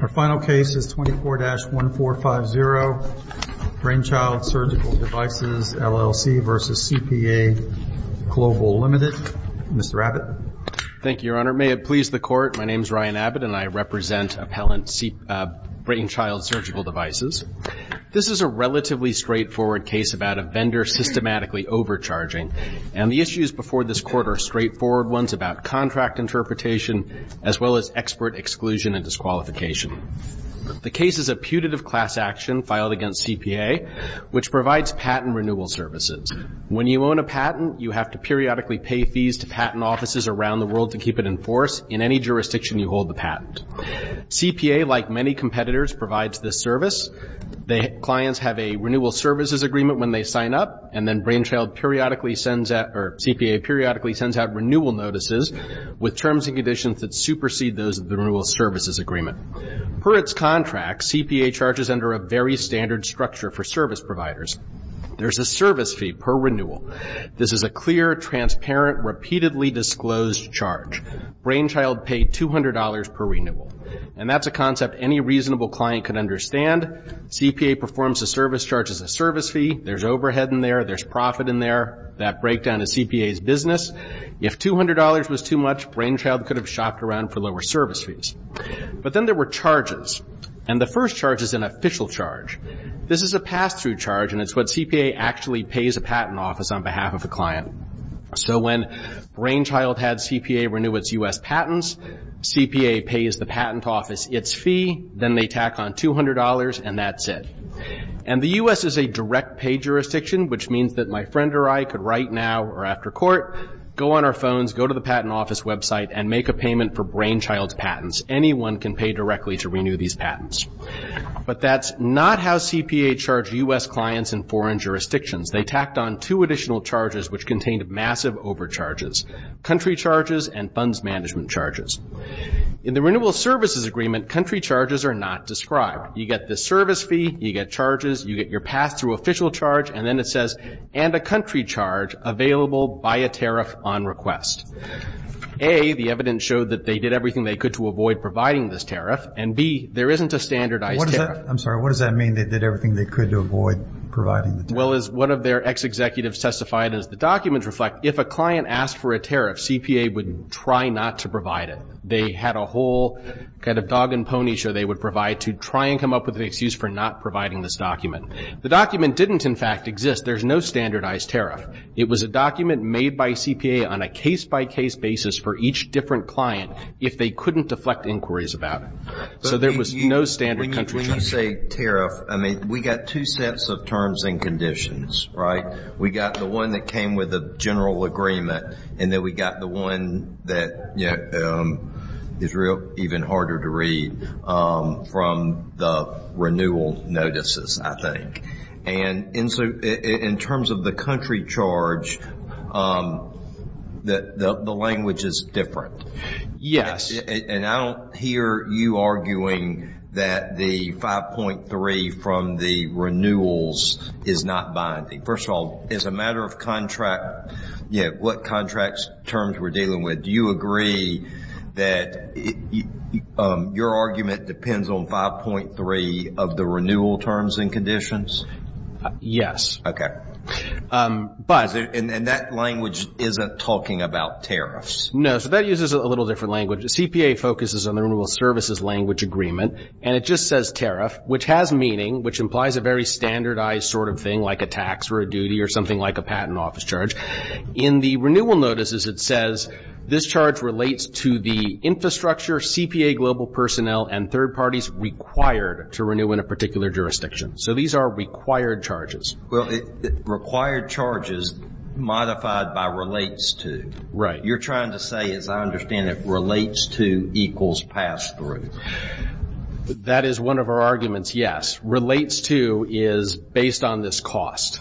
Our final case is 24-1450, Brainchild Surgical Devices, LLC v. CPA Global Limited. Mr. Abbott. Thank you, Your Honor. May it please the Court, my name is Ryan Abbott, and I represent Appellant Brainchild Surgical Devices. This is a relatively straightforward case about a vendor systematically overcharging, and the issues before this Court are straightforward ones about contract interpretation as well as expert exclusion and disqualification. The case is a putative class action filed against CPA, which provides patent renewal services. When you own a patent, you have to periodically pay fees to patent offices around the world to keep it in force in any jurisdiction you hold the patent. CPA, like many competitors, provides this service. Clients have a renewal services agreement when they sign up, and then Brainchild periodically sends out renewal notices with terms and conditions that supersede those of the renewal services agreement. Per its contract, CPA charges under a very standard structure for service providers. There's a service fee per renewal. This is a clear, transparent, repeatedly disclosed charge. Brainchild paid $200 per renewal, and that's a concept any reasonable client could understand. CPA performs a service charge as a service fee. There's overhead in there. There's profit in there. That breakdown is CPA's business. If $200 was too much, Brainchild could have shopped around for lower service fees. But then there were charges, and the first charge is an official charge. This is a pass-through charge, and it's what CPA actually pays a patent office on behalf of a client. So when Brainchild had CPA renew its U.S. patents, CPA pays the patent office its fee. Then they tack on $200, and that's it. And the U.S. is a direct-pay jurisdiction, which means that my friend or I could write now or after court, go on our phones, go to the patent office website, and make a payment for Brainchild's patents. Anyone can pay directly to renew these patents. But that's not how CPA charged U.S. clients in foreign jurisdictions. They tacked on two additional charges which contained massive overcharges, country charges and funds management charges. In the renewal services agreement, country charges are not described. You get the service fee, you get charges, you get your pass-through official charge, and then it says, and a country charge available by a tariff on request. A, the evidence showed that they did everything they could to avoid providing this tariff, and B, there isn't a standardized tariff. I'm sorry. What does that mean, they did everything they could to avoid providing the tariff? Well, as one of their ex-executives testified, as the documents reflect, if a client asked for a tariff, CPA would try not to provide it. They had a whole kind of dog and pony show they would provide to try and come up with an excuse for not providing this document. The document didn't, in fact, exist. There's no standardized tariff. It was a document made by CPA on a case-by-case basis for each different client if they couldn't deflect inquiries about it. So there was no standard country charge. When you say tariff, I mean, we got two sets of terms and conditions, right? We got the one that came with a general agreement, and then we got the one that is even harder to read from the renewal notices, I think. And so in terms of the country charge, the language is different. Yes. And I don't hear you arguing that the 5.3 from the renewals is not binding. First of all, as a matter of contract, what contract terms we're dealing with, do you agree that your argument depends on 5.3 of the renewal terms and conditions? Yes. Okay. And that language isn't talking about tariffs? No. So that uses a little different language. The CPA focuses on the renewal services language agreement, and it just says tariff, which has meaning, which implies a very standardized sort of thing like a tax or a duty or something like a patent office charge. In the renewal notices, it says this charge relates to the infrastructure, CPA global personnel, and third parties required to renew in a particular jurisdiction. So these are required charges. Well, required charges modified by relates to. Right. You're trying to say, as I understand it, relates to equals pass-through. That is one of our arguments, yes. What relates to is based on this cost.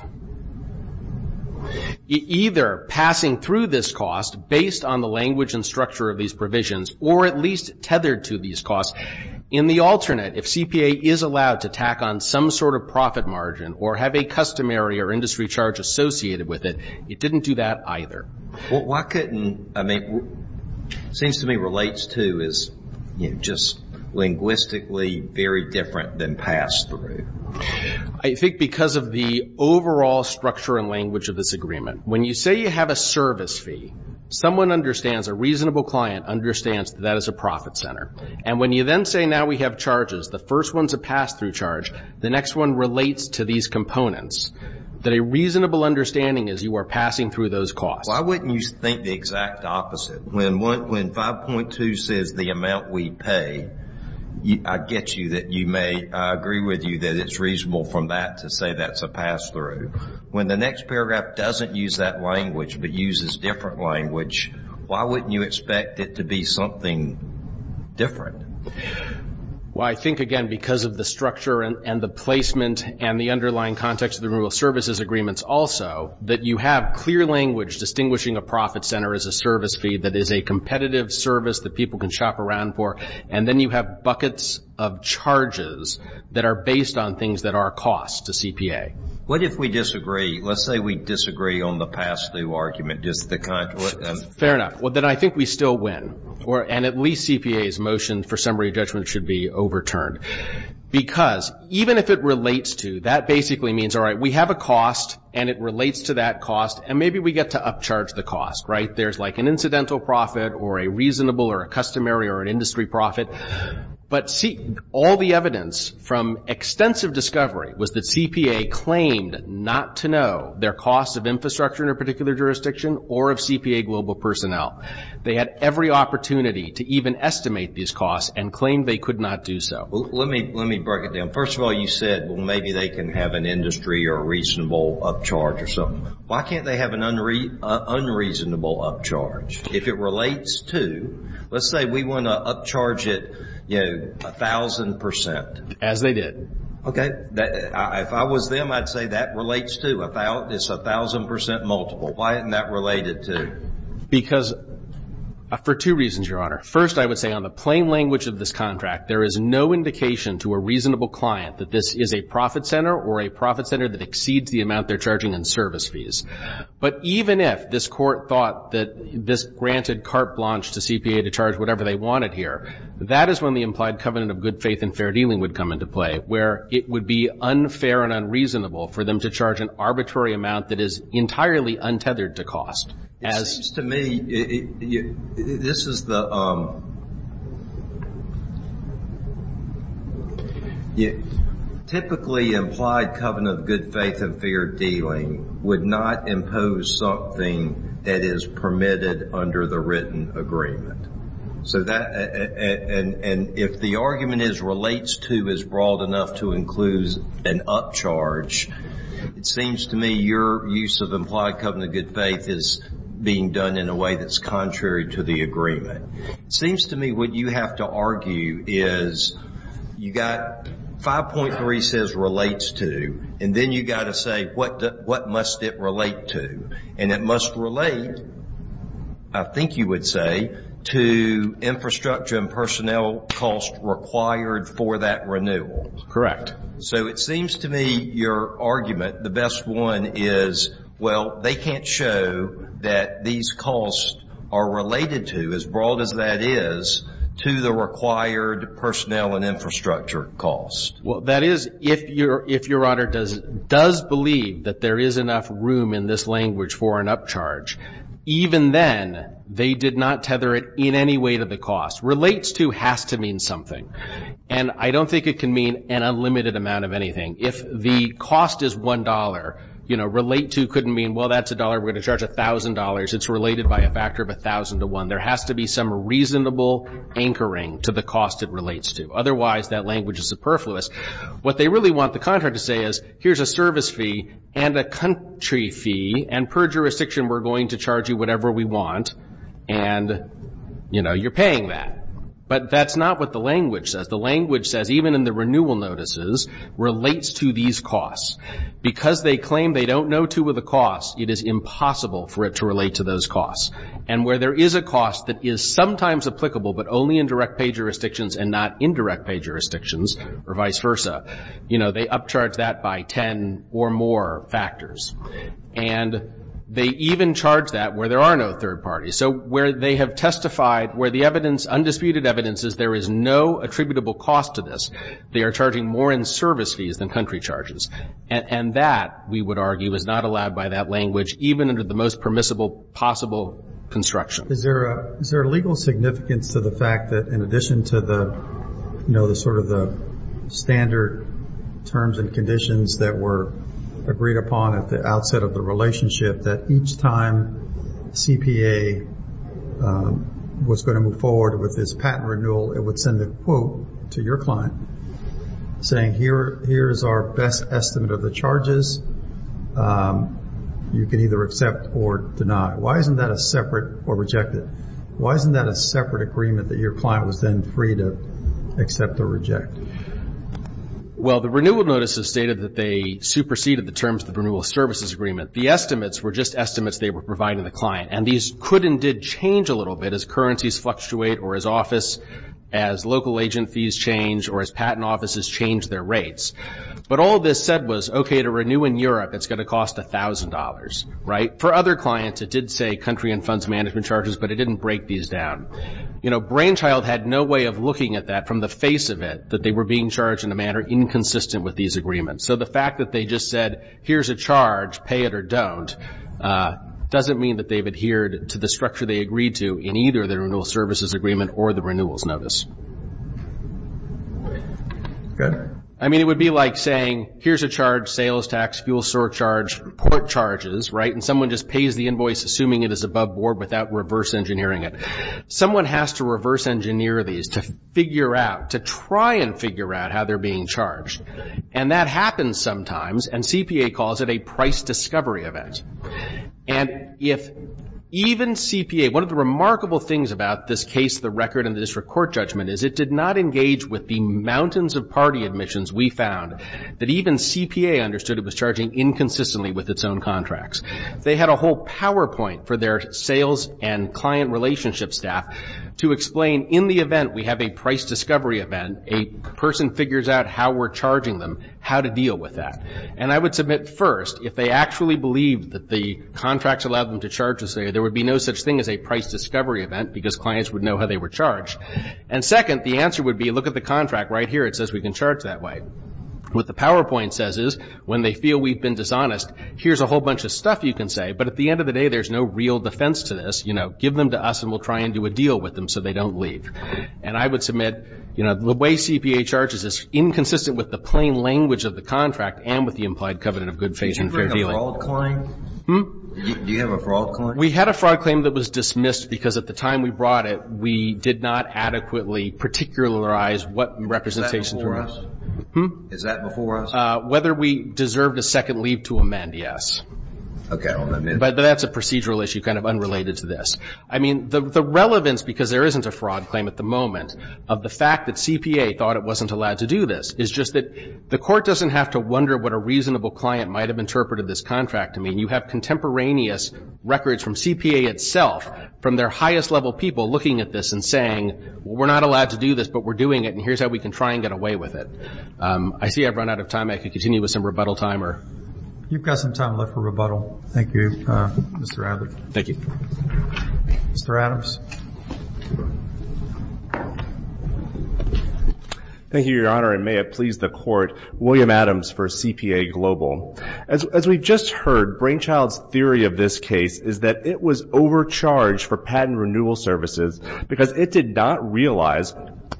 Either passing through this cost based on the language and structure of these provisions or at least tethered to these costs. In the alternate, if CPA is allowed to tack on some sort of profit margin or have a customary or industry charge associated with it, it didn't do that either. Why couldn't, I mean, seems to me relates to is just linguistically very different than pass-through. I think because of the overall structure and language of this agreement. When you say you have a service fee, someone understands, a reasonable client understands that that is a profit center. And when you then say now we have charges, the first one is a pass-through charge, the next one relates to these components, that a reasonable understanding is you are passing through those costs. Why wouldn't you think the exact opposite? When 5.2 says the amount we pay, I get you that you may, I agree with you that it's reasonable from that to say that's a pass-through. When the next paragraph doesn't use that language but uses different language, why wouldn't you expect it to be something different? Well, I think, again, because of the structure and the placement and the underlying context of the Removal Services Agreements also, that you have clear language distinguishing a profit center as a service fee that is a competitive service that people can shop around for, and then you have buckets of charges that are based on things that are costs to CPA. What if we disagree? Let's say we disagree on the pass-through argument. Fair enough. Well, then I think we still win, and at least CPA's motion for summary judgment should be overturned. Because even if it relates to, that basically means, all right, we have a cost and it relates to that cost, and maybe we get to upcharge the cost, right? There's like an incidental profit or a reasonable or a customary or an industry profit. But all the evidence from extensive discovery was that CPA claimed not to know their cost of infrastructure in a particular jurisdiction or of CPA global personnel. They had every opportunity to even estimate these costs and claimed they could not do so. Let me break it down. First of all, you said, well, maybe they can have an industry or a reasonable upcharge or something. Why can't they have an unreasonable upcharge? If it relates to, let's say we want to upcharge it 1,000%. As they did. Okay. If I was them, I'd say that relates to, it's 1,000% multiple. Why isn't that related to? Because for two reasons, Your Honor. First, I would say on the plain language of this contract, there is no indication to a reasonable client that this is a profit center or a profit center that exceeds the amount they're charging in service fees. But even if this court thought that this granted carte blanche to CPA to charge whatever they wanted here, that is when the implied covenant of good faith and fair dealing would come into play, where it would be unfair and unreasonable for them to charge an arbitrary amount that is entirely untethered to cost. It seems to me this is the typically implied covenant of good faith and fair dealing would not impose something that is permitted under the written agreement. So that, and if the argument is relates to is broad enough to include an upcharge, it seems to me your use of implied covenant of good faith is being done in a way that's contrary to the agreement. It seems to me what you have to argue is you've got 5.3 says relates to, and then you've got to say what must it relate to. And it must relate, I think you would say, to infrastructure and personnel costs required for that renewal. Correct. So it seems to me your argument, the best one is, well, they can't show that these costs are related to, as broad as that is, to the required personnel and infrastructure costs. Well, that is, if Your Honor does believe that there is enough room in this language for an upcharge, even then they did not tether it in any way to the cost. Relates to has to mean something. And I don't think it can mean an unlimited amount of anything. If the cost is $1, you know, relate to couldn't mean, well, that's $1, we're going to charge $1,000. It's related by a factor of 1,000 to 1. There has to be some reasonable anchoring to the cost it relates to. Otherwise, that language is superfluous. What they really want the contract to say is, here's a service fee and a country fee, and per jurisdiction we're going to charge you whatever we want, and, you know, you're paying that. But that's not what the language says. The language says, even in the renewal notices, relates to these costs. Because they claim they don't know two of the costs, it is impossible for it to relate to those costs. And where there is a cost that is sometimes applicable but only in direct pay jurisdictions and not indirect pay jurisdictions, or vice versa, you know, they upcharge that by 10 or more factors. And they even charge that where there are no third parties. So where they have testified, where the evidence, undisputed evidence, is there is no attributable cost to this. They are charging more in service fees than country charges. And that, we would argue, is not allowed by that language, even under the most permissible possible construction. Is there a legal significance to the fact that, in addition to the, you know, the sort of the standard terms and conditions that were agreed upon at the outset of the relationship, that each time CPA was going to move forward with this patent renewal, it would send a quote to your client saying, here is our best estimate of the charges. You can either accept or deny. Why isn't that a separate or rejected? Why isn't that a separate agreement that your client was then free to accept or reject? Well, the renewal notices stated that they superseded the terms of the renewal services agreement. The estimates were just estimates they were providing the client. And these could and did change a little bit as currencies fluctuate or as office, as local agent fees change, or as patent offices change their rates. But all this said was, okay, to renew in Europe, it's going to cost $1,000, right? For other clients, it did say country and funds management charges, but it didn't break these down. You know, Brainchild had no way of looking at that from the face of it, that they were being charged in a manner inconsistent with these agreements. So the fact that they just said, here's a charge, pay it or don't, doesn't mean that they've adhered to the structure they agreed to in either the renewal services agreement or the renewals notice. I mean, it would be like saying, here's a charge, sales tax, fuel surcharge, port charges, right? And someone just pays the invoice assuming it is above board without reverse engineering it. Someone has to reverse engineer these to figure out, to try and figure out how they're being charged. And that happens sometimes, and CPA calls it a price discovery event. And if even CPA, one of the remarkable things about this case, the record, and the district court judgment is it did not engage with the mountains of party admissions we found that even CPA understood it was charging inconsistently with its own contracts. They had a whole PowerPoint for their sales and client relationship staff to explain, in the event we have a price discovery event, a person figures out how we're charging them, how to deal with that. And I would submit first, if they actually believed that the contracts allowed them to charge us, there would be no such thing as a price discovery event because clients would know how they were charged. And second, the answer would be, look at the contract right here. It says we can charge that way. What the PowerPoint says is, when they feel we've been dishonest, here's a whole bunch of stuff you can say, but at the end of the day, there's no real defense to this. Give them to us, and we'll try and do a deal with them so they don't leave. And I would submit the way CPA charges is inconsistent with the plain language of the contract and with the implied covenant of good faith and fair dealing. Do you have a fraud claim? We had a fraud claim that was dismissed because at the time we brought it, we did not adequately particularize what representation. Is that before us? Whether we deserved a second leave to amend, yes. But that's a procedural issue kind of unrelated to this. I mean, the relevance, because there isn't a fraud claim at the moment, of the fact that CPA thought it wasn't allowed to do this is just that the court doesn't have to wonder what a reasonable client might have interpreted this contract to mean. You have contemporaneous records from CPA itself from their highest level people looking at this and saying, well, we're not allowed to do this, but we're doing it, and here's how we can try and get away with it. I see I've run out of time. I could continue with some rebuttal time. You've got some time left for rebuttal. Thank you, Mr. Adams. Thank you. Mr. Adams. Thank you, Your Honor, and may it please the Court, William Adams for CPA Global. As we've just heard, Brainchild's theory of this case is that it was overcharged for patent renewal services because it did not realize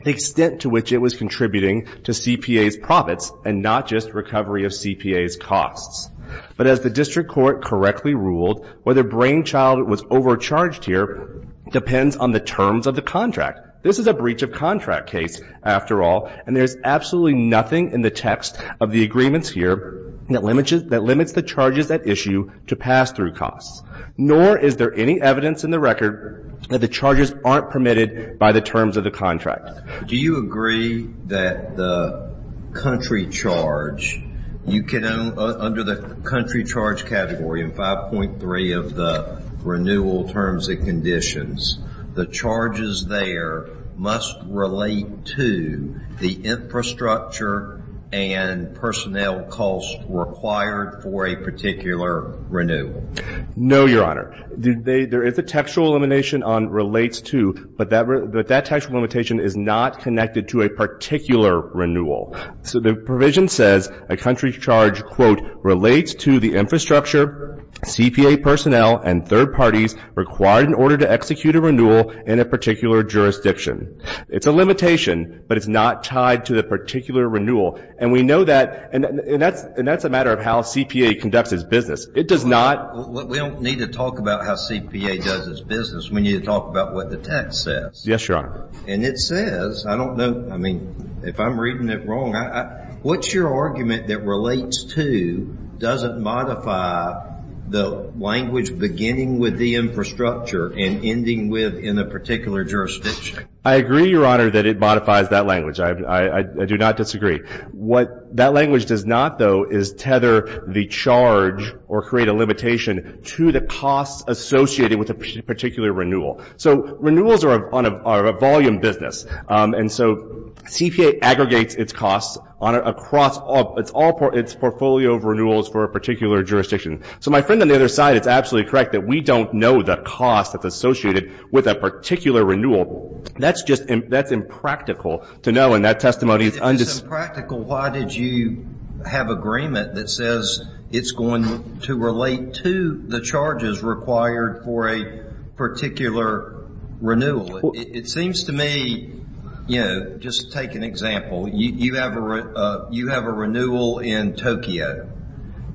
the extent to which it was contributing to CPA's profits and not just recovery of CPA's costs. But as the district court correctly ruled, whether Brainchild was overcharged here depends on the terms of the contract. This is a breach of contract case, after all, and there's absolutely nothing in the text of the agreements here that limits the charges at issue to pass-through costs, nor is there any evidence in the record that the charges aren't permitted by the terms of the contract. Do you agree that the country charge, you can under the country charge category in 5.3 of the renewal terms and conditions, the charges there must relate to the infrastructure and personnel costs required for a particular renewal? No, Your Honor. There is a textual elimination on relates to, but that textual limitation is not connected to a particular renewal. So the provision says a country charge, quote, relates to the infrastructure, CPA personnel, and third parties required in order to execute a renewal in a particular jurisdiction. It's a limitation, but it's not tied to the particular renewal. And we know that, and that's a matter of how CPA conducts its business. It does not. We don't need to talk about how CPA does its business. We need to talk about what the text says. Yes, Your Honor. And it says, I don't know, I mean, if I'm reading it wrong, what's your argument that relates to, doesn't modify the language beginning with the infrastructure and ending with in a particular jurisdiction? I agree, Your Honor, that it modifies that language. I do not disagree. What that language does not, though, is tether the charge or create a limitation to the costs associated with a particular renewal. So renewals are a volume business, and so CPA aggregates its costs across its portfolio of renewals for a particular jurisdiction. So my friend on the other side is absolutely correct that we don't know the cost that's associated with a particular renewal. That's just impractical to know, and that testimony is undisputed. It's impractical. Why did you have agreement that says it's going to relate to the charges required for a particular renewal? It seems to me, you know, just to take an example, you have a renewal in Tokyo,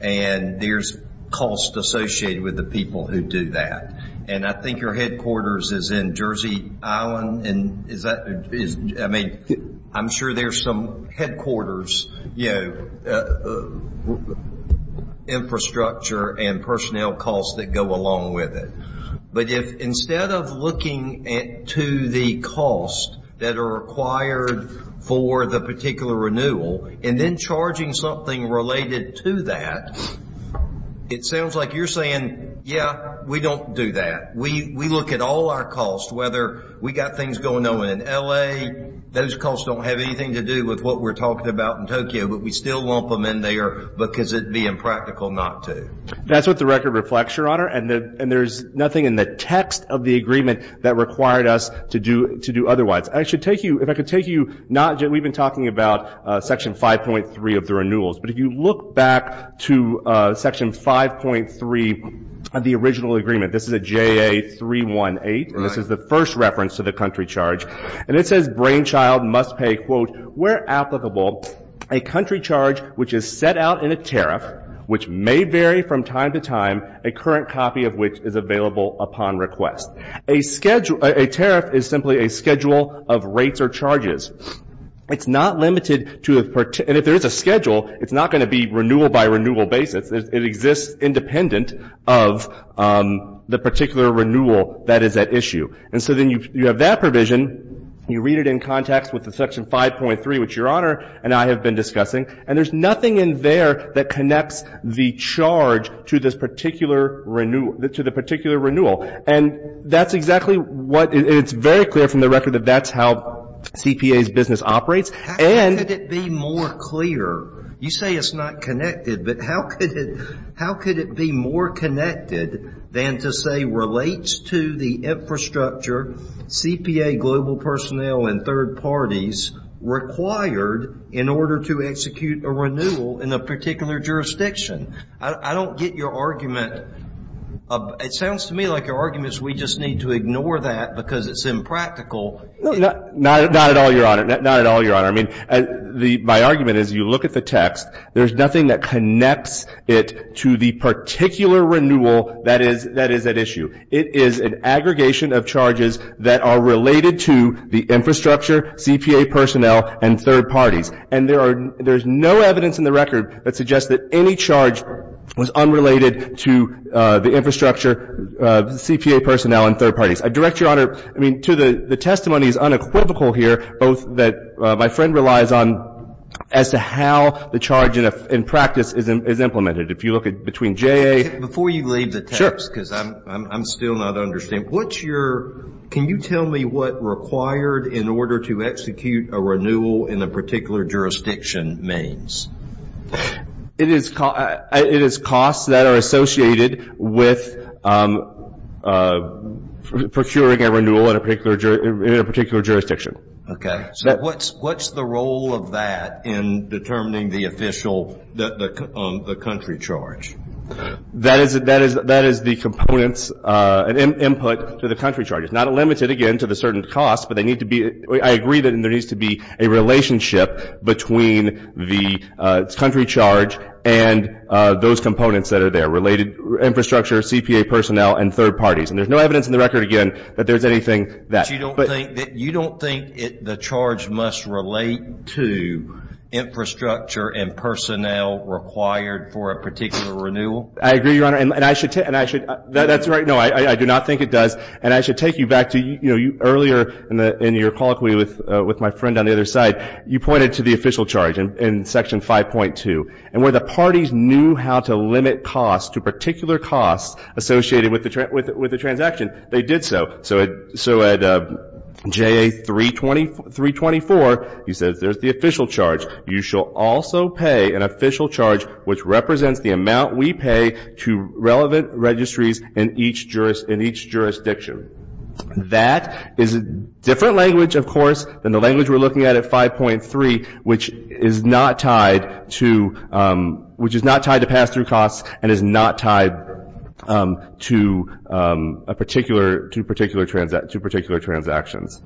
and there's costs associated with the people who do that. And I think your headquarters is in Jersey Island. And is that, I mean, I'm sure there's some headquarters, you know, infrastructure and personnel costs that go along with it. But if instead of looking to the costs that are required for the particular renewal and then charging something related to that, it sounds like you're saying, yeah, we don't do that. We look at all our costs, whether we've got things going on in L.A., those costs don't have anything to do with what we're talking about in Tokyo, but we still lump them in there because it would be impractical not to. That's what the record reflects, Your Honor, and there's nothing in the text of the agreement that required us to do otherwise. I should take you, if I could take you, we've been talking about Section 5.3 of the renewals. But if you look back to Section 5.3 of the original agreement, this is a JA-318, and this is the first reference to the country charge. And it says Brainchild must pay, quote, where applicable, a country charge which is set out in a tariff which may vary from time to time, a current copy of which is available upon request. A tariff is simply a schedule of rates or charges. It's not limited to, and if there is a schedule, it's not going to be renewal by renewal basis. It exists independent of the particular renewal that is at issue. And so then you have that provision, you read it in context with the Section 5.3, which Your Honor and I have been discussing, and there's nothing in there that connects the charge to this particular renewal. And that's exactly what it's very clear from the record that that's how CPA's business operates. How could it be more clear? You say it's not connected, but how could it be more connected than to say relates to the infrastructure, CPA, global personnel, and third parties required in order to execute a renewal in a particular jurisdiction? I don't get your argument. It sounds to me like your argument is we just need to ignore that because it's impractical. Not at all, Your Honor. Not at all, Your Honor. I mean, my argument is you look at the text. There's nothing that connects it to the particular renewal that is at issue. It is an aggregation of charges that are related to the infrastructure, CPA personnel, and third parties. And there's no evidence in the record that suggests that any charge was unrelated to the infrastructure, CPA personnel, and third parties. I direct Your Honor, I mean, to the testimony is unequivocal here, both that my friend relies on as to how the charge in practice is implemented. If you look at between JA. Before you leave the text, because I'm still not understanding, what's your – can you tell me what required in order to execute a renewal in a particular jurisdiction means? It is costs that are associated with procuring a renewal in a particular jurisdiction. Okay. So what's the role of that in determining the official, the country charge? That is the components, input to the country charge. Not limited, again, to the certain costs, but they need to be – I agree that there needs to be a relationship between the country charge and those components that are there, related infrastructure, CPA personnel, and third parties. And there's no evidence in the record, again, that there's anything that – But you don't think – you don't think the charge must relate to infrastructure and personnel required for a particular renewal? I agree, Your Honor. And I should – that's right. No, I do not think it does. And I should take you back to, you know, earlier in your colloquy with my friend on the other side, you pointed to the official charge in Section 5.2. And where the parties knew how to limit costs to particular costs associated with the transaction, they did so. So at JA 324, he says there's the official charge. You shall also pay an official charge which represents the amount we pay to relevant registries in each jurisdiction. That is a different language, of course, than the language we're looking at at 5.3, which is not tied to – which is not tied to pass-through costs and is not tied to a particular – to particular transactions.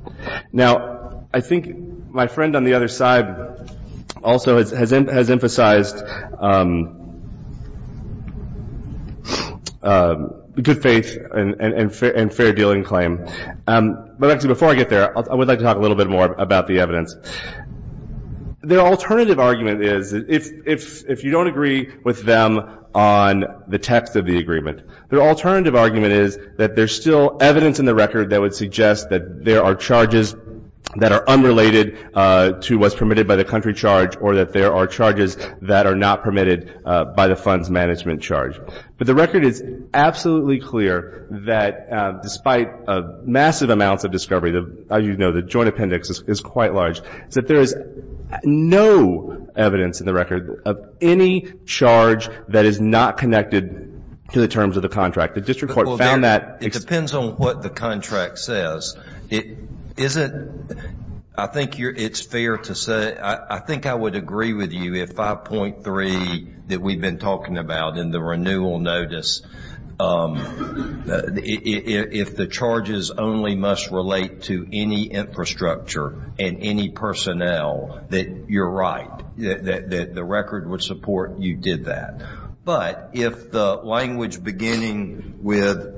Now, I think my friend on the other side also has emphasized good faith and fair dealing claim. But actually, before I get there, I would like to talk a little bit more about the evidence. Their alternative argument is, if you don't agree with them on the text of the agreement, their alternative argument is that there's still evidence in the record that would suggest that there are charges that are unrelated to what's permitted by the country charge or that there are charges that are not permitted by the funds management charge. But the record is absolutely clear that despite massive amounts of discovery, as you know, the joint appendix is quite large, is that there is no evidence in the record of any charge that is not connected to the terms of the contract. The district court found that. It depends on what the contract says. Is it – I think it's fair to say – I think I would agree with you if 5.3 that we've been talking about in the renewal notice, if the charges only must relate to any infrastructure and any personnel, that you're right, that the record would support you did that. But if the language beginning with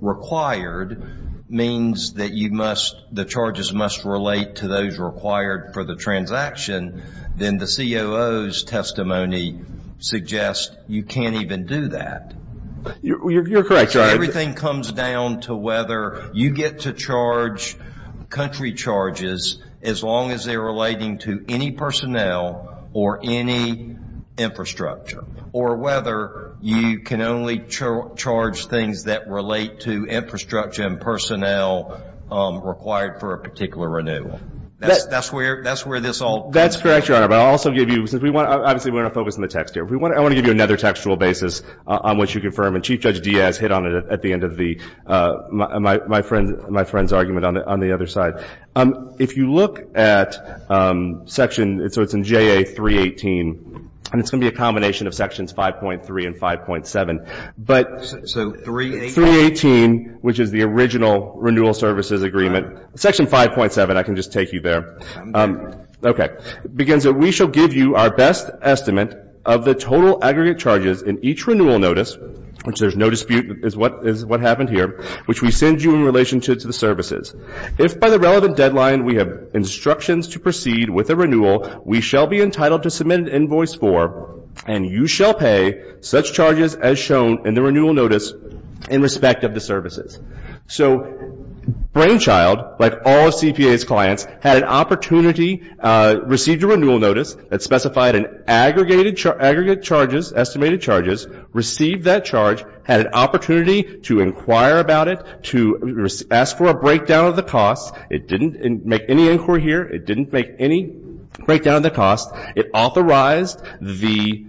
required means that you must – the charges must relate to those required for the transaction, then the COO's testimony suggests you can't even do that. You're correct. Everything comes down to whether you get to charge country charges as long as they're relating to any personnel or any infrastructure, or whether you can only charge things that relate to infrastructure and personnel required for a particular renewal. That's where this all comes from. That's correct, Your Honor. But I'll also give you – obviously we want to focus on the text here. I want to give you another textual basis on which you confirm, and Chief Judge Diaz hit on it at the end of my friend's argument on the other side. If you look at Section – so it's in JA 318, and it's going to be a combination of Sections 5.3 and 5.7. So 318? 318, which is the original renewal services agreement. Section 5.7, I can just take you there. Okay. It begins that we shall give you our best estimate of the total aggregate charges in each renewal notice, which there's no dispute is what happened here, which we send you in relation to the services. If by the relevant deadline we have instructions to proceed with a renewal, we shall be entitled to submit an invoice for, and you shall pay such charges as shown in the renewal notice in respect of the services. So Brainchild, like all of CPA's clients, had an opportunity, received a renewal notice that specified an aggregate charges – estimated charges, received that charge, had an opportunity to inquire about it, to ask for a breakdown of the cost. It didn't make any inquiry here. It didn't make any breakdown of the cost. It authorized the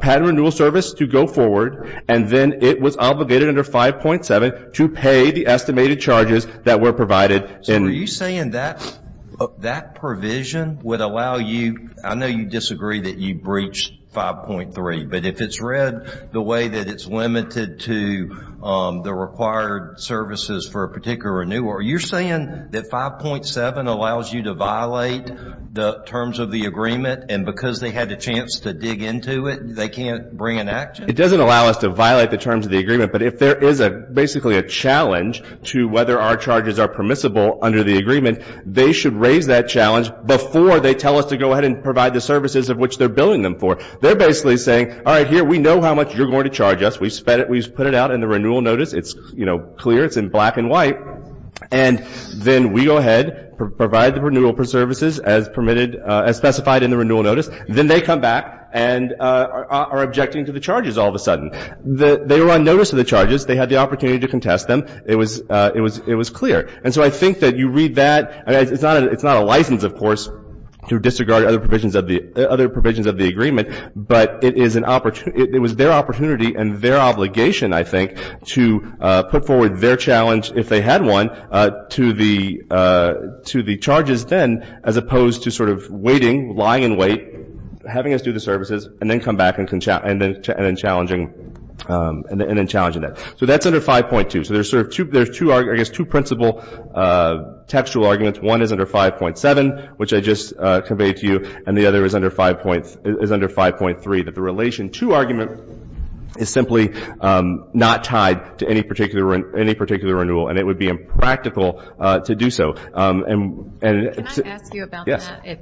patent renewal service to go forward, and then it was obligated under 5.7 to pay the estimated charges that were provided. So are you saying that provision would allow you – I know you disagree that you breached 5.3, but if it's read the way that it's limited to the required services for a particular renewal, are you saying that 5.7 allows you to violate the terms of the agreement, and because they had a chance to dig into it, they can't bring an action? It doesn't allow us to violate the terms of the agreement, but if there is basically a challenge to whether our charges are permissible under the agreement, they should raise that challenge before they tell us to go ahead and provide the services of which they're billing them for. They're basically saying, all right, here, we know how much you're going to charge us. We put it out in the renewal notice. It's, you know, clear. It's in black and white. And then we go ahead, provide the renewal services as specified in the renewal notice. Then they come back and are objecting to the charges all of a sudden. They were on notice of the charges. They had the opportunity to contest them. It was clear. And so I think that you read that. It's not a license, of course, to disregard other provisions of the agreement, but it was their opportunity and their obligation, I think, to put forward their challenge, if they had one, to the charges then as opposed to sort of waiting, lying in wait, having us do the services and then come back and then challenging that. So that's under 5.2. So there's sort of two principle textual arguments. One is under 5.7, which I just conveyed to you, and the other is under 5.3, that the relation to argument is simply not tied to any particular renewal, and it would be impractical to do so. Can I ask you about that?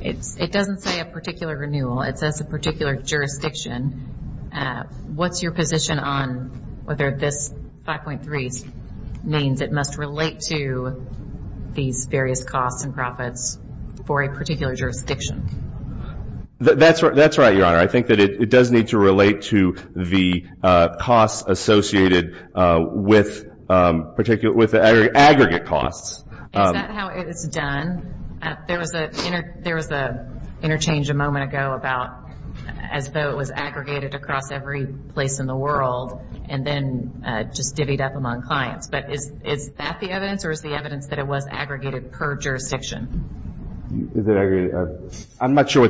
Yes. It doesn't say a particular renewal. It says a particular jurisdiction. What's your position on whether this 5.3 means it must relate to these various costs and profits for a particular jurisdiction? That's right, Your Honor. I think that it does need to relate to the costs associated with aggregate costs. Is that how it is done? There was an interchange a moment ago about as though it was aggregated across every place in the world and then just divvied up among clients. But is that the evidence, or is the evidence that it was aggregated per jurisdiction? Is it aggregated? I'm not sure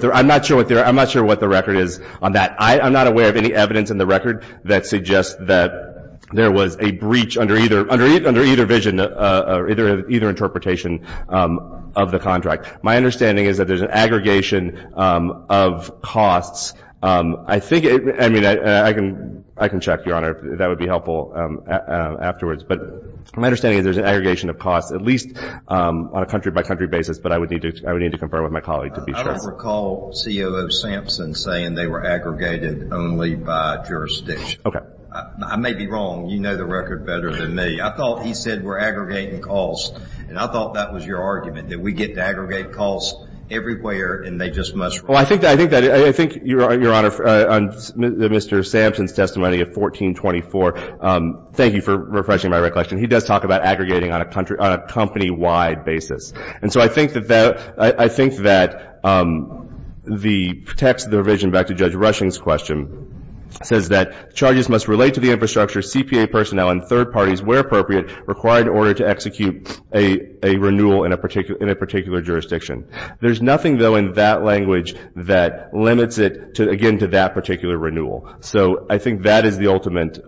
what the record is on that. I'm not aware of any evidence in the record that suggests that there was a breach under either vision or either interpretation of the contract. My understanding is that there's an aggregation of costs. I think, I mean, I can check, Your Honor, if that would be helpful afterwards. But my understanding is there's an aggregation of costs, at least on a country-by-country basis, but I would need to confirm with my colleague to be sure. I don't recall COO Sampson saying they were aggregated only by jurisdiction. Okay. I may be wrong. You know the record better than me. I thought he said we're aggregating costs, and I thought that was your argument, that we get to aggregate costs everywhere and they just must relate. Well, I think that, I think that, I think, Your Honor, on Mr. Sampson's testimony of 1424, thank you for refreshing my recollection. He does talk about aggregating on a country, on a company-wide basis. And so I think that the text of the revision, back to Judge Rushing's question, says that charges must relate to the infrastructure, CPA personnel, and third parties where appropriate required in order to execute a renewal in a particular jurisdiction. There's nothing, though, in that language that limits it, again, to that particular renewal. So I think that is the ultimate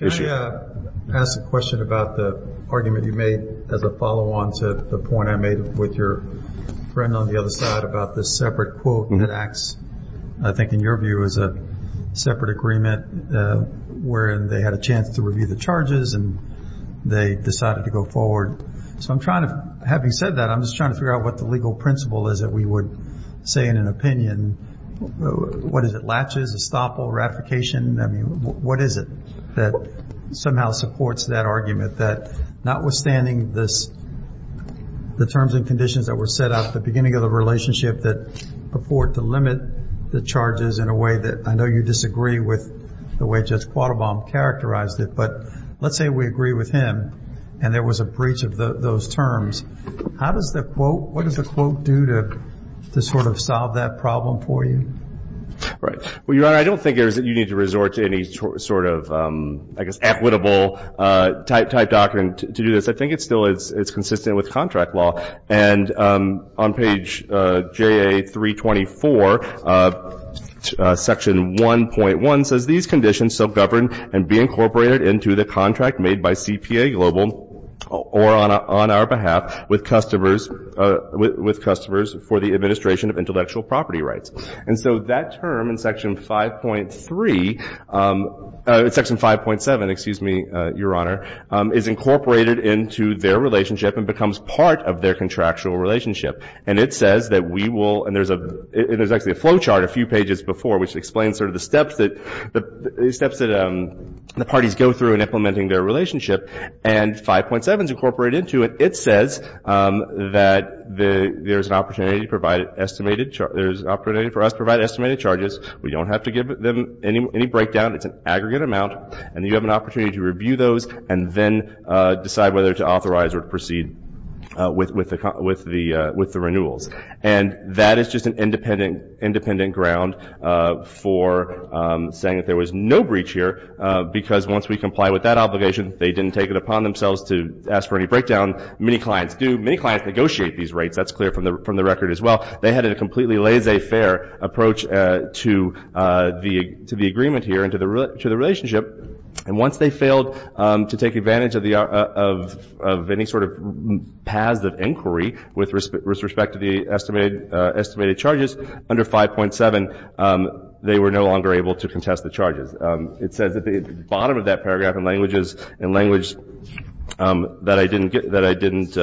issue. Can I ask a question about the argument you made as a follow-on to the point I made with your friend on the other side about the separate quote that acts, I think, in your view, as a separate agreement, wherein they had a chance to review the charges and they decided to go forward. So I'm trying to, having said that, I'm just trying to figure out what the legal principle is that we would say in an opinion. What is it, latches, estoppel, ratification? I mean, what is it that somehow supports that argument, that notwithstanding the terms and conditions that were set out at the beginning of the relationship that afford to limit the charges in a way that I know you disagree with the way Judge Quattlebaum characterized it, but let's say we agree with him and there was a breach of those terms. How does the quote, what does the quote do to sort of solve that problem for you? Right. Well, Your Honor, I don't think you need to resort to any sort of, I guess, equitable type document to do this. I think it's still consistent with contract law. And on page JA-324, Section 1.1 says, These conditions shall govern and be incorporated into the contract made by CPA Global or on our behalf with customers for the administration of intellectual property rights. And so that term in Section 5.3, Section 5.7, excuse me, Your Honor, is incorporated into their relationship and becomes part of their contractual relationship. And it says that we will, and there's actually a flow chart a few pages before which explains sort of the steps that the parties go through in implementing their relationship. And 5.7 is incorporated into it. It says that there's an opportunity for us to provide estimated charges. We don't have to give them any breakdown. It's an aggregate amount, and you have an opportunity to review those and then decide whether to authorize or proceed with the renewals. And that is just an independent ground for saying that there was no breach here because once we comply with that obligation, they didn't take it upon themselves to ask for any breakdown. Many clients do. Many clients negotiate these rates. That's clear from the record as well. They had a completely laissez-faire approach to the agreement here and to the relationship. And once they failed to take advantage of any sort of paths of inquiry with respect to the estimated charges, under 5.7, they were no longer able to contest the charges. It says at the bottom of that paragraph in language that I didn't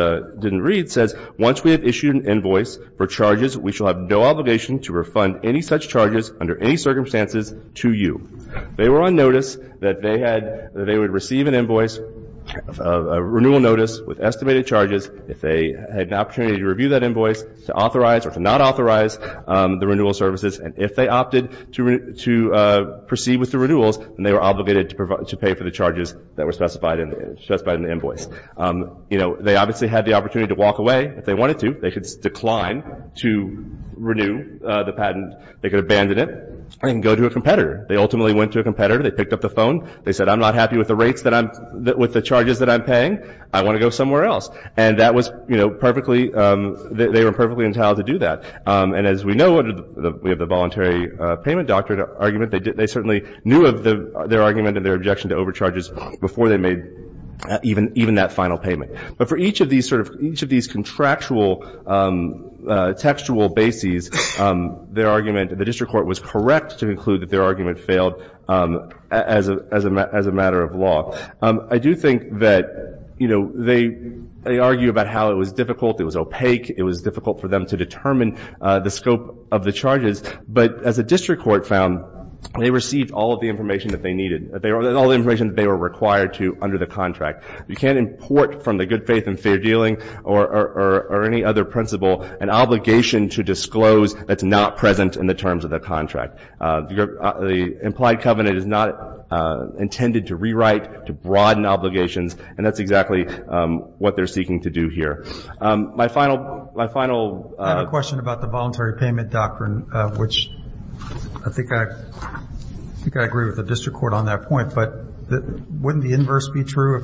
read, it says once we have issued an invoice for charges, we shall have no obligation to refund any such charges under any circumstances to you. They were on notice that they would receive an invoice, a renewal notice with estimated charges, if they had an opportunity to review that invoice, to authorize or to not authorize the renewal services, and if they opted to proceed with the renewals, then they were obligated to pay for the charges that were specified in the invoice. They obviously had the opportunity to walk away if they wanted to. They could decline to renew the patent. They could abandon it and go to a competitor. They ultimately went to a competitor. They picked up the phone. They said, I'm not happy with the rates that I'm – with the charges that I'm paying. I want to go somewhere else. And that was perfectly – they were perfectly entitled to do that. And as we know, under the voluntary payment doctrine argument, they certainly knew of their argument and their objection to overcharges before they made even that final payment. But for each of these sort of – each of these contractual textual bases, their argument – the district court was correct to conclude that their argument failed as a matter of law. I do think that, you know, they argue about how it was difficult. It was opaque. It was difficult for them to determine the scope of the charges. But as the district court found, they received all of the information that they needed – all the information that they were required to under the contract. You can't import from the good faith and fair dealing or any other principle an obligation to disclose that's not present in the terms of the contract. The implied covenant is not intended to rewrite, to broaden obligations, and that's exactly what they're seeking to do here. My final – my final – I have a question about the voluntary payment doctrine, which I think I – I think I agree with the district court on that point. But wouldn't the inverse be true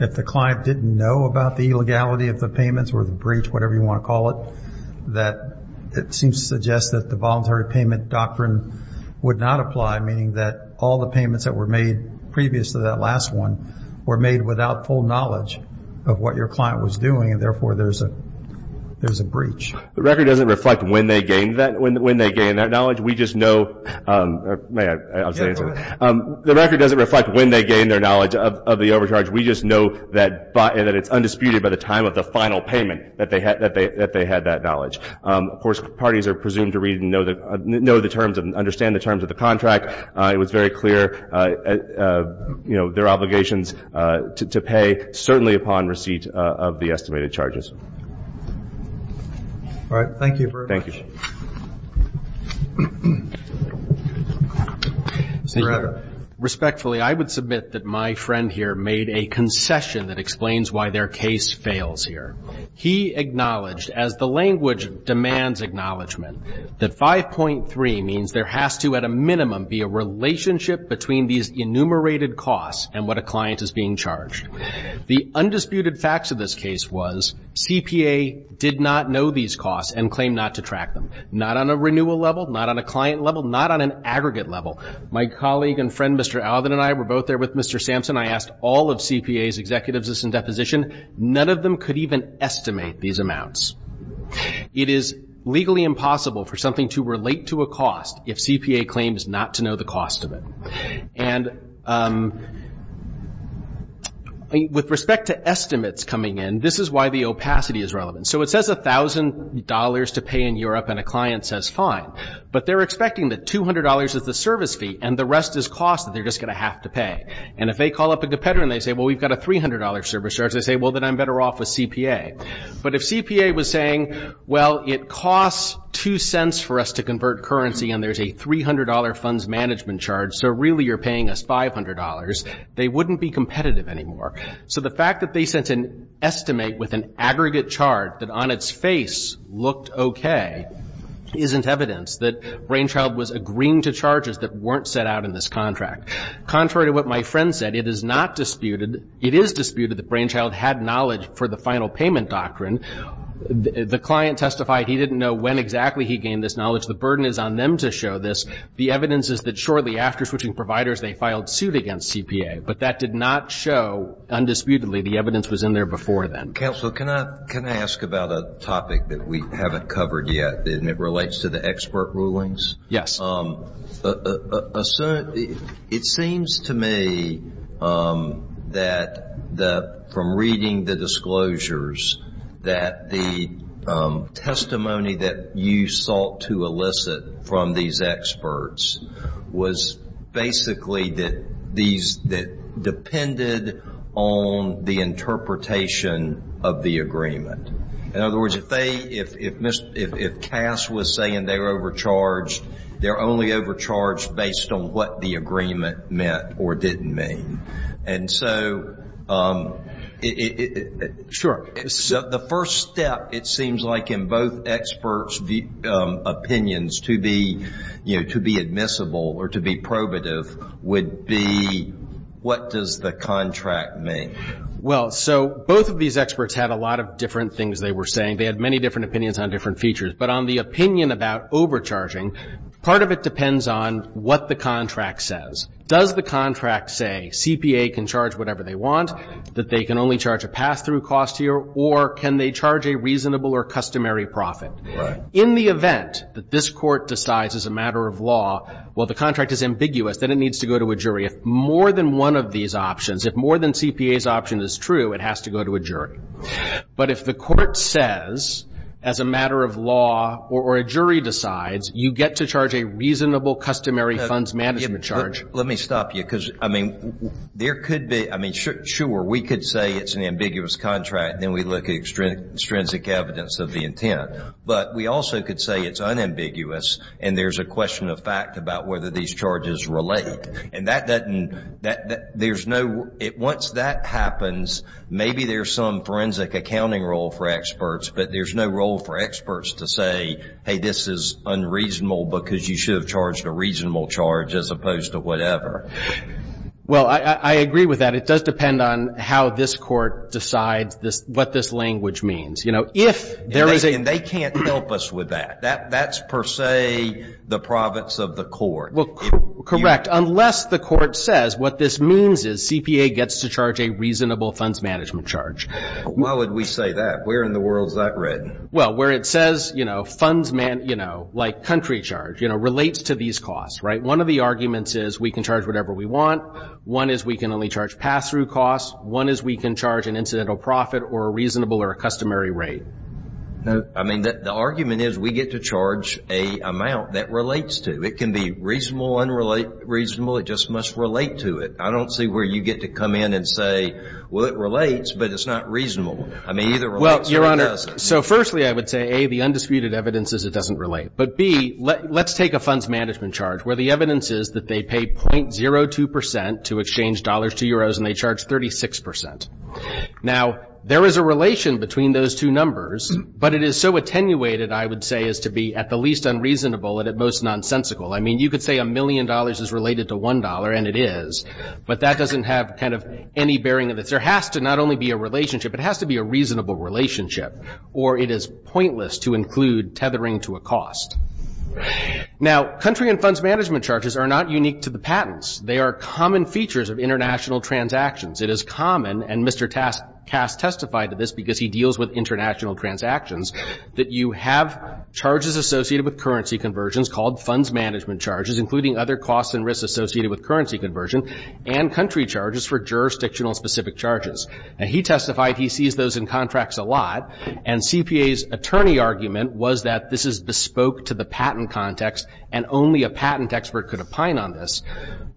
if the client didn't know about the illegality of the payments or the breach, whatever you want to call it, that it seems to suggest that the voluntary payment doctrine would not apply, meaning that all the payments that were made previous to that last one were made without full knowledge of what your client was doing and, therefore, there's a breach? The record doesn't reflect when they gained that – when they gained that knowledge. We just know – may I say something? Yeah, go ahead. The record doesn't reflect when they gained their knowledge of the overcharge. We just know that it's undisputed by the time of the final payment that they had that knowledge. Of course, parties are presumed to know the terms and understand the terms of the contract. It was very clear, you know, their obligations to pay, certainly upon receipt of the estimated charges. All right. Thank you very much. Senator? Respectfully, I would submit that my friend here made a concession that explains why their case fails here. He acknowledged, as the language demands acknowledgment, that 5.3 means there has to, at a minimum, be a relationship between these enumerated costs and what a client is being charged. The undisputed facts of this case was CPA did not know these costs and claimed not to track them, not on a renewal level, not on a client level, not on an aggregate level. My colleague and friend, Mr. Alvin, and I were both there with Mr. Sampson. I asked all of CPA's executives this in deposition. None of them could even estimate these amounts. It is legally impossible for something to relate to a cost if CPA claims not to know the cost of it. And with respect to estimates coming in, this is why the opacity is relevant. So it says $1,000 to pay in Europe and a client says fine, but they're expecting that $200 is the service fee and the rest is cost that they're just going to have to pay. And if they call up a competitor and they say, well, we've got a $300 service charge, they say, well, then I'm better off with CPA. But if CPA was saying, well, it costs two cents for us to convert currency and there's a $300 funds management charge, so really you're paying us $500, they wouldn't be competitive anymore. So the fact that they sent an estimate with an aggregate chart that on its face looked okay isn't evidence that Brainchild was agreeing to charges that weren't set out in this contract. Contrary to what my friend said, it is not disputed, it is disputed that Brainchild had knowledge for the final payment doctrine. The client testified he didn't know when exactly he gained this knowledge. The burden is on them to show this. The evidence is that shortly after switching providers they filed suit against CPA, but that did not show undisputedly the evidence was in there before then. Counsel, can I ask about a topic that we haven't covered yet and it relates to the expert rulings? Yes. It seems to me that from reading the disclosures that the testimony that you sought to elicit from these experts was basically that these depended on the interpretation of the agreement. In other words, if Cass was saying they were overcharged, they're only overcharged based on what the agreement meant or didn't mean. And so the first step, it seems like in both experts' opinions, to be admissible or to be probative would be what does the contract mean? Well, so both of these experts had a lot of different things they were saying. They had many different opinions on different features. But on the opinion about overcharging, part of it depends on what the contract says. Does the contract say CPA can charge whatever they want, that they can only charge a pass-through cost here, or can they charge a reasonable or customary profit? Right. In the event that this Court decides as a matter of law, well, the contract is ambiguous, then it needs to go to a jury. If more than one of these options, if more than CPA's option is true, it has to go to a jury. But if the Court says as a matter of law or a jury decides, you get to charge a reasonable customary funds management charge. Let me stop you because, I mean, there could be – I mean, sure, we could say it's an ambiguous contract and then we look at extrinsic evidence of the intent. But we also could say it's unambiguous and there's a question of fact about whether these charges relate. And that doesn't – there's no – once that happens, maybe there's some forensic accounting role for experts, but there's no role for experts to say, hey, this is unreasonable because you should have charged a reasonable charge as opposed to whatever. Well, I agree with that. It does depend on how this Court decides what this language means. You know, if there is a – And they can't help us with that. That's per se the province of the Court. Well, correct. Unless the Court says what this means is CPA gets to charge a reasonable funds management charge. Why would we say that? Where in the world is that written? Well, where it says, you know, funds, you know, like country charge, you know, relates to these costs, right? One of the arguments is we can charge whatever we want. One is we can only charge pass-through costs. One is we can charge an incidental profit or a reasonable or a customary rate. No. I mean, the argument is we get to charge an amount that relates to. It can be reasonable, unreasonable. It just must relate to it. I don't see where you get to come in and say, well, it relates, but it's not reasonable. I mean, either relates or it doesn't. Well, Your Honor, so firstly I would say, A, the undisputed evidence is it doesn't relate. But, B, let's take a funds management charge where the evidence is that they pay .02 percent to exchange dollars to euros and they charge 36 percent. Now, there is a relation between those two numbers, but it is so attenuated, I would say, as to be at the least unreasonable and at most nonsensical. I mean, you could say a million dollars is related to one dollar, and it is, but that doesn't have kind of any bearing on this. There has to not only be a relationship, it has to be a reasonable relationship, or it is pointless to include tethering to a cost. Now, country and funds management charges are not unique to the patents. They are common features of international transactions. It is common, and Mr. Cass testified to this because he deals with international transactions, that you have charges associated with currency conversions called funds management charges, including other costs and risks associated with currency conversion and country charges for jurisdictional specific charges. Now, he testified he sees those in contracts a lot, and CPA's attorney argument was that this is bespoke to the patent context and only a patent expert could opine on this.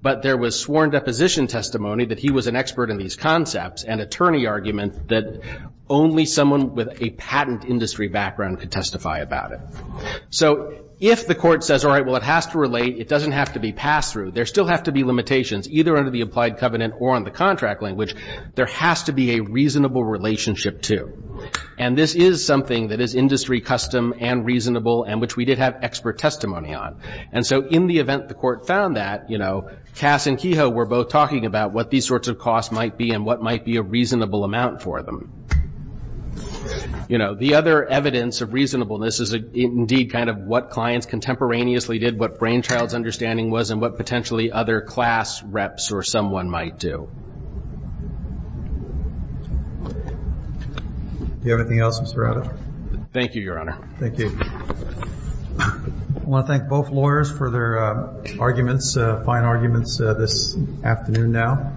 But there was sworn deposition testimony that he was an expert in these concepts and attorney argument that only someone with a patent industry background could testify about it. So if the court says, all right, well, it has to relate, it doesn't have to be pass-through, there still have to be limitations, either under the implied covenant or on the contract language, there has to be a reasonable relationship, too. And this is something that is industry custom and reasonable and which we did have expert testimony on. And so in the event the court found that, you know, Cass and Kehoe were both talking about what these sorts of costs might be and what might be a reasonable amount for them. You know, the other evidence of reasonableness is, indeed, kind of what clients contemporaneously did, what Brainchild's understanding was, and what potentially other class reps or someone might do. Do you have anything else, Mr. Radovich? Thank you, Your Honor. Thank you. I want to thank both lawyers for their arguments, fine arguments, this afternoon now.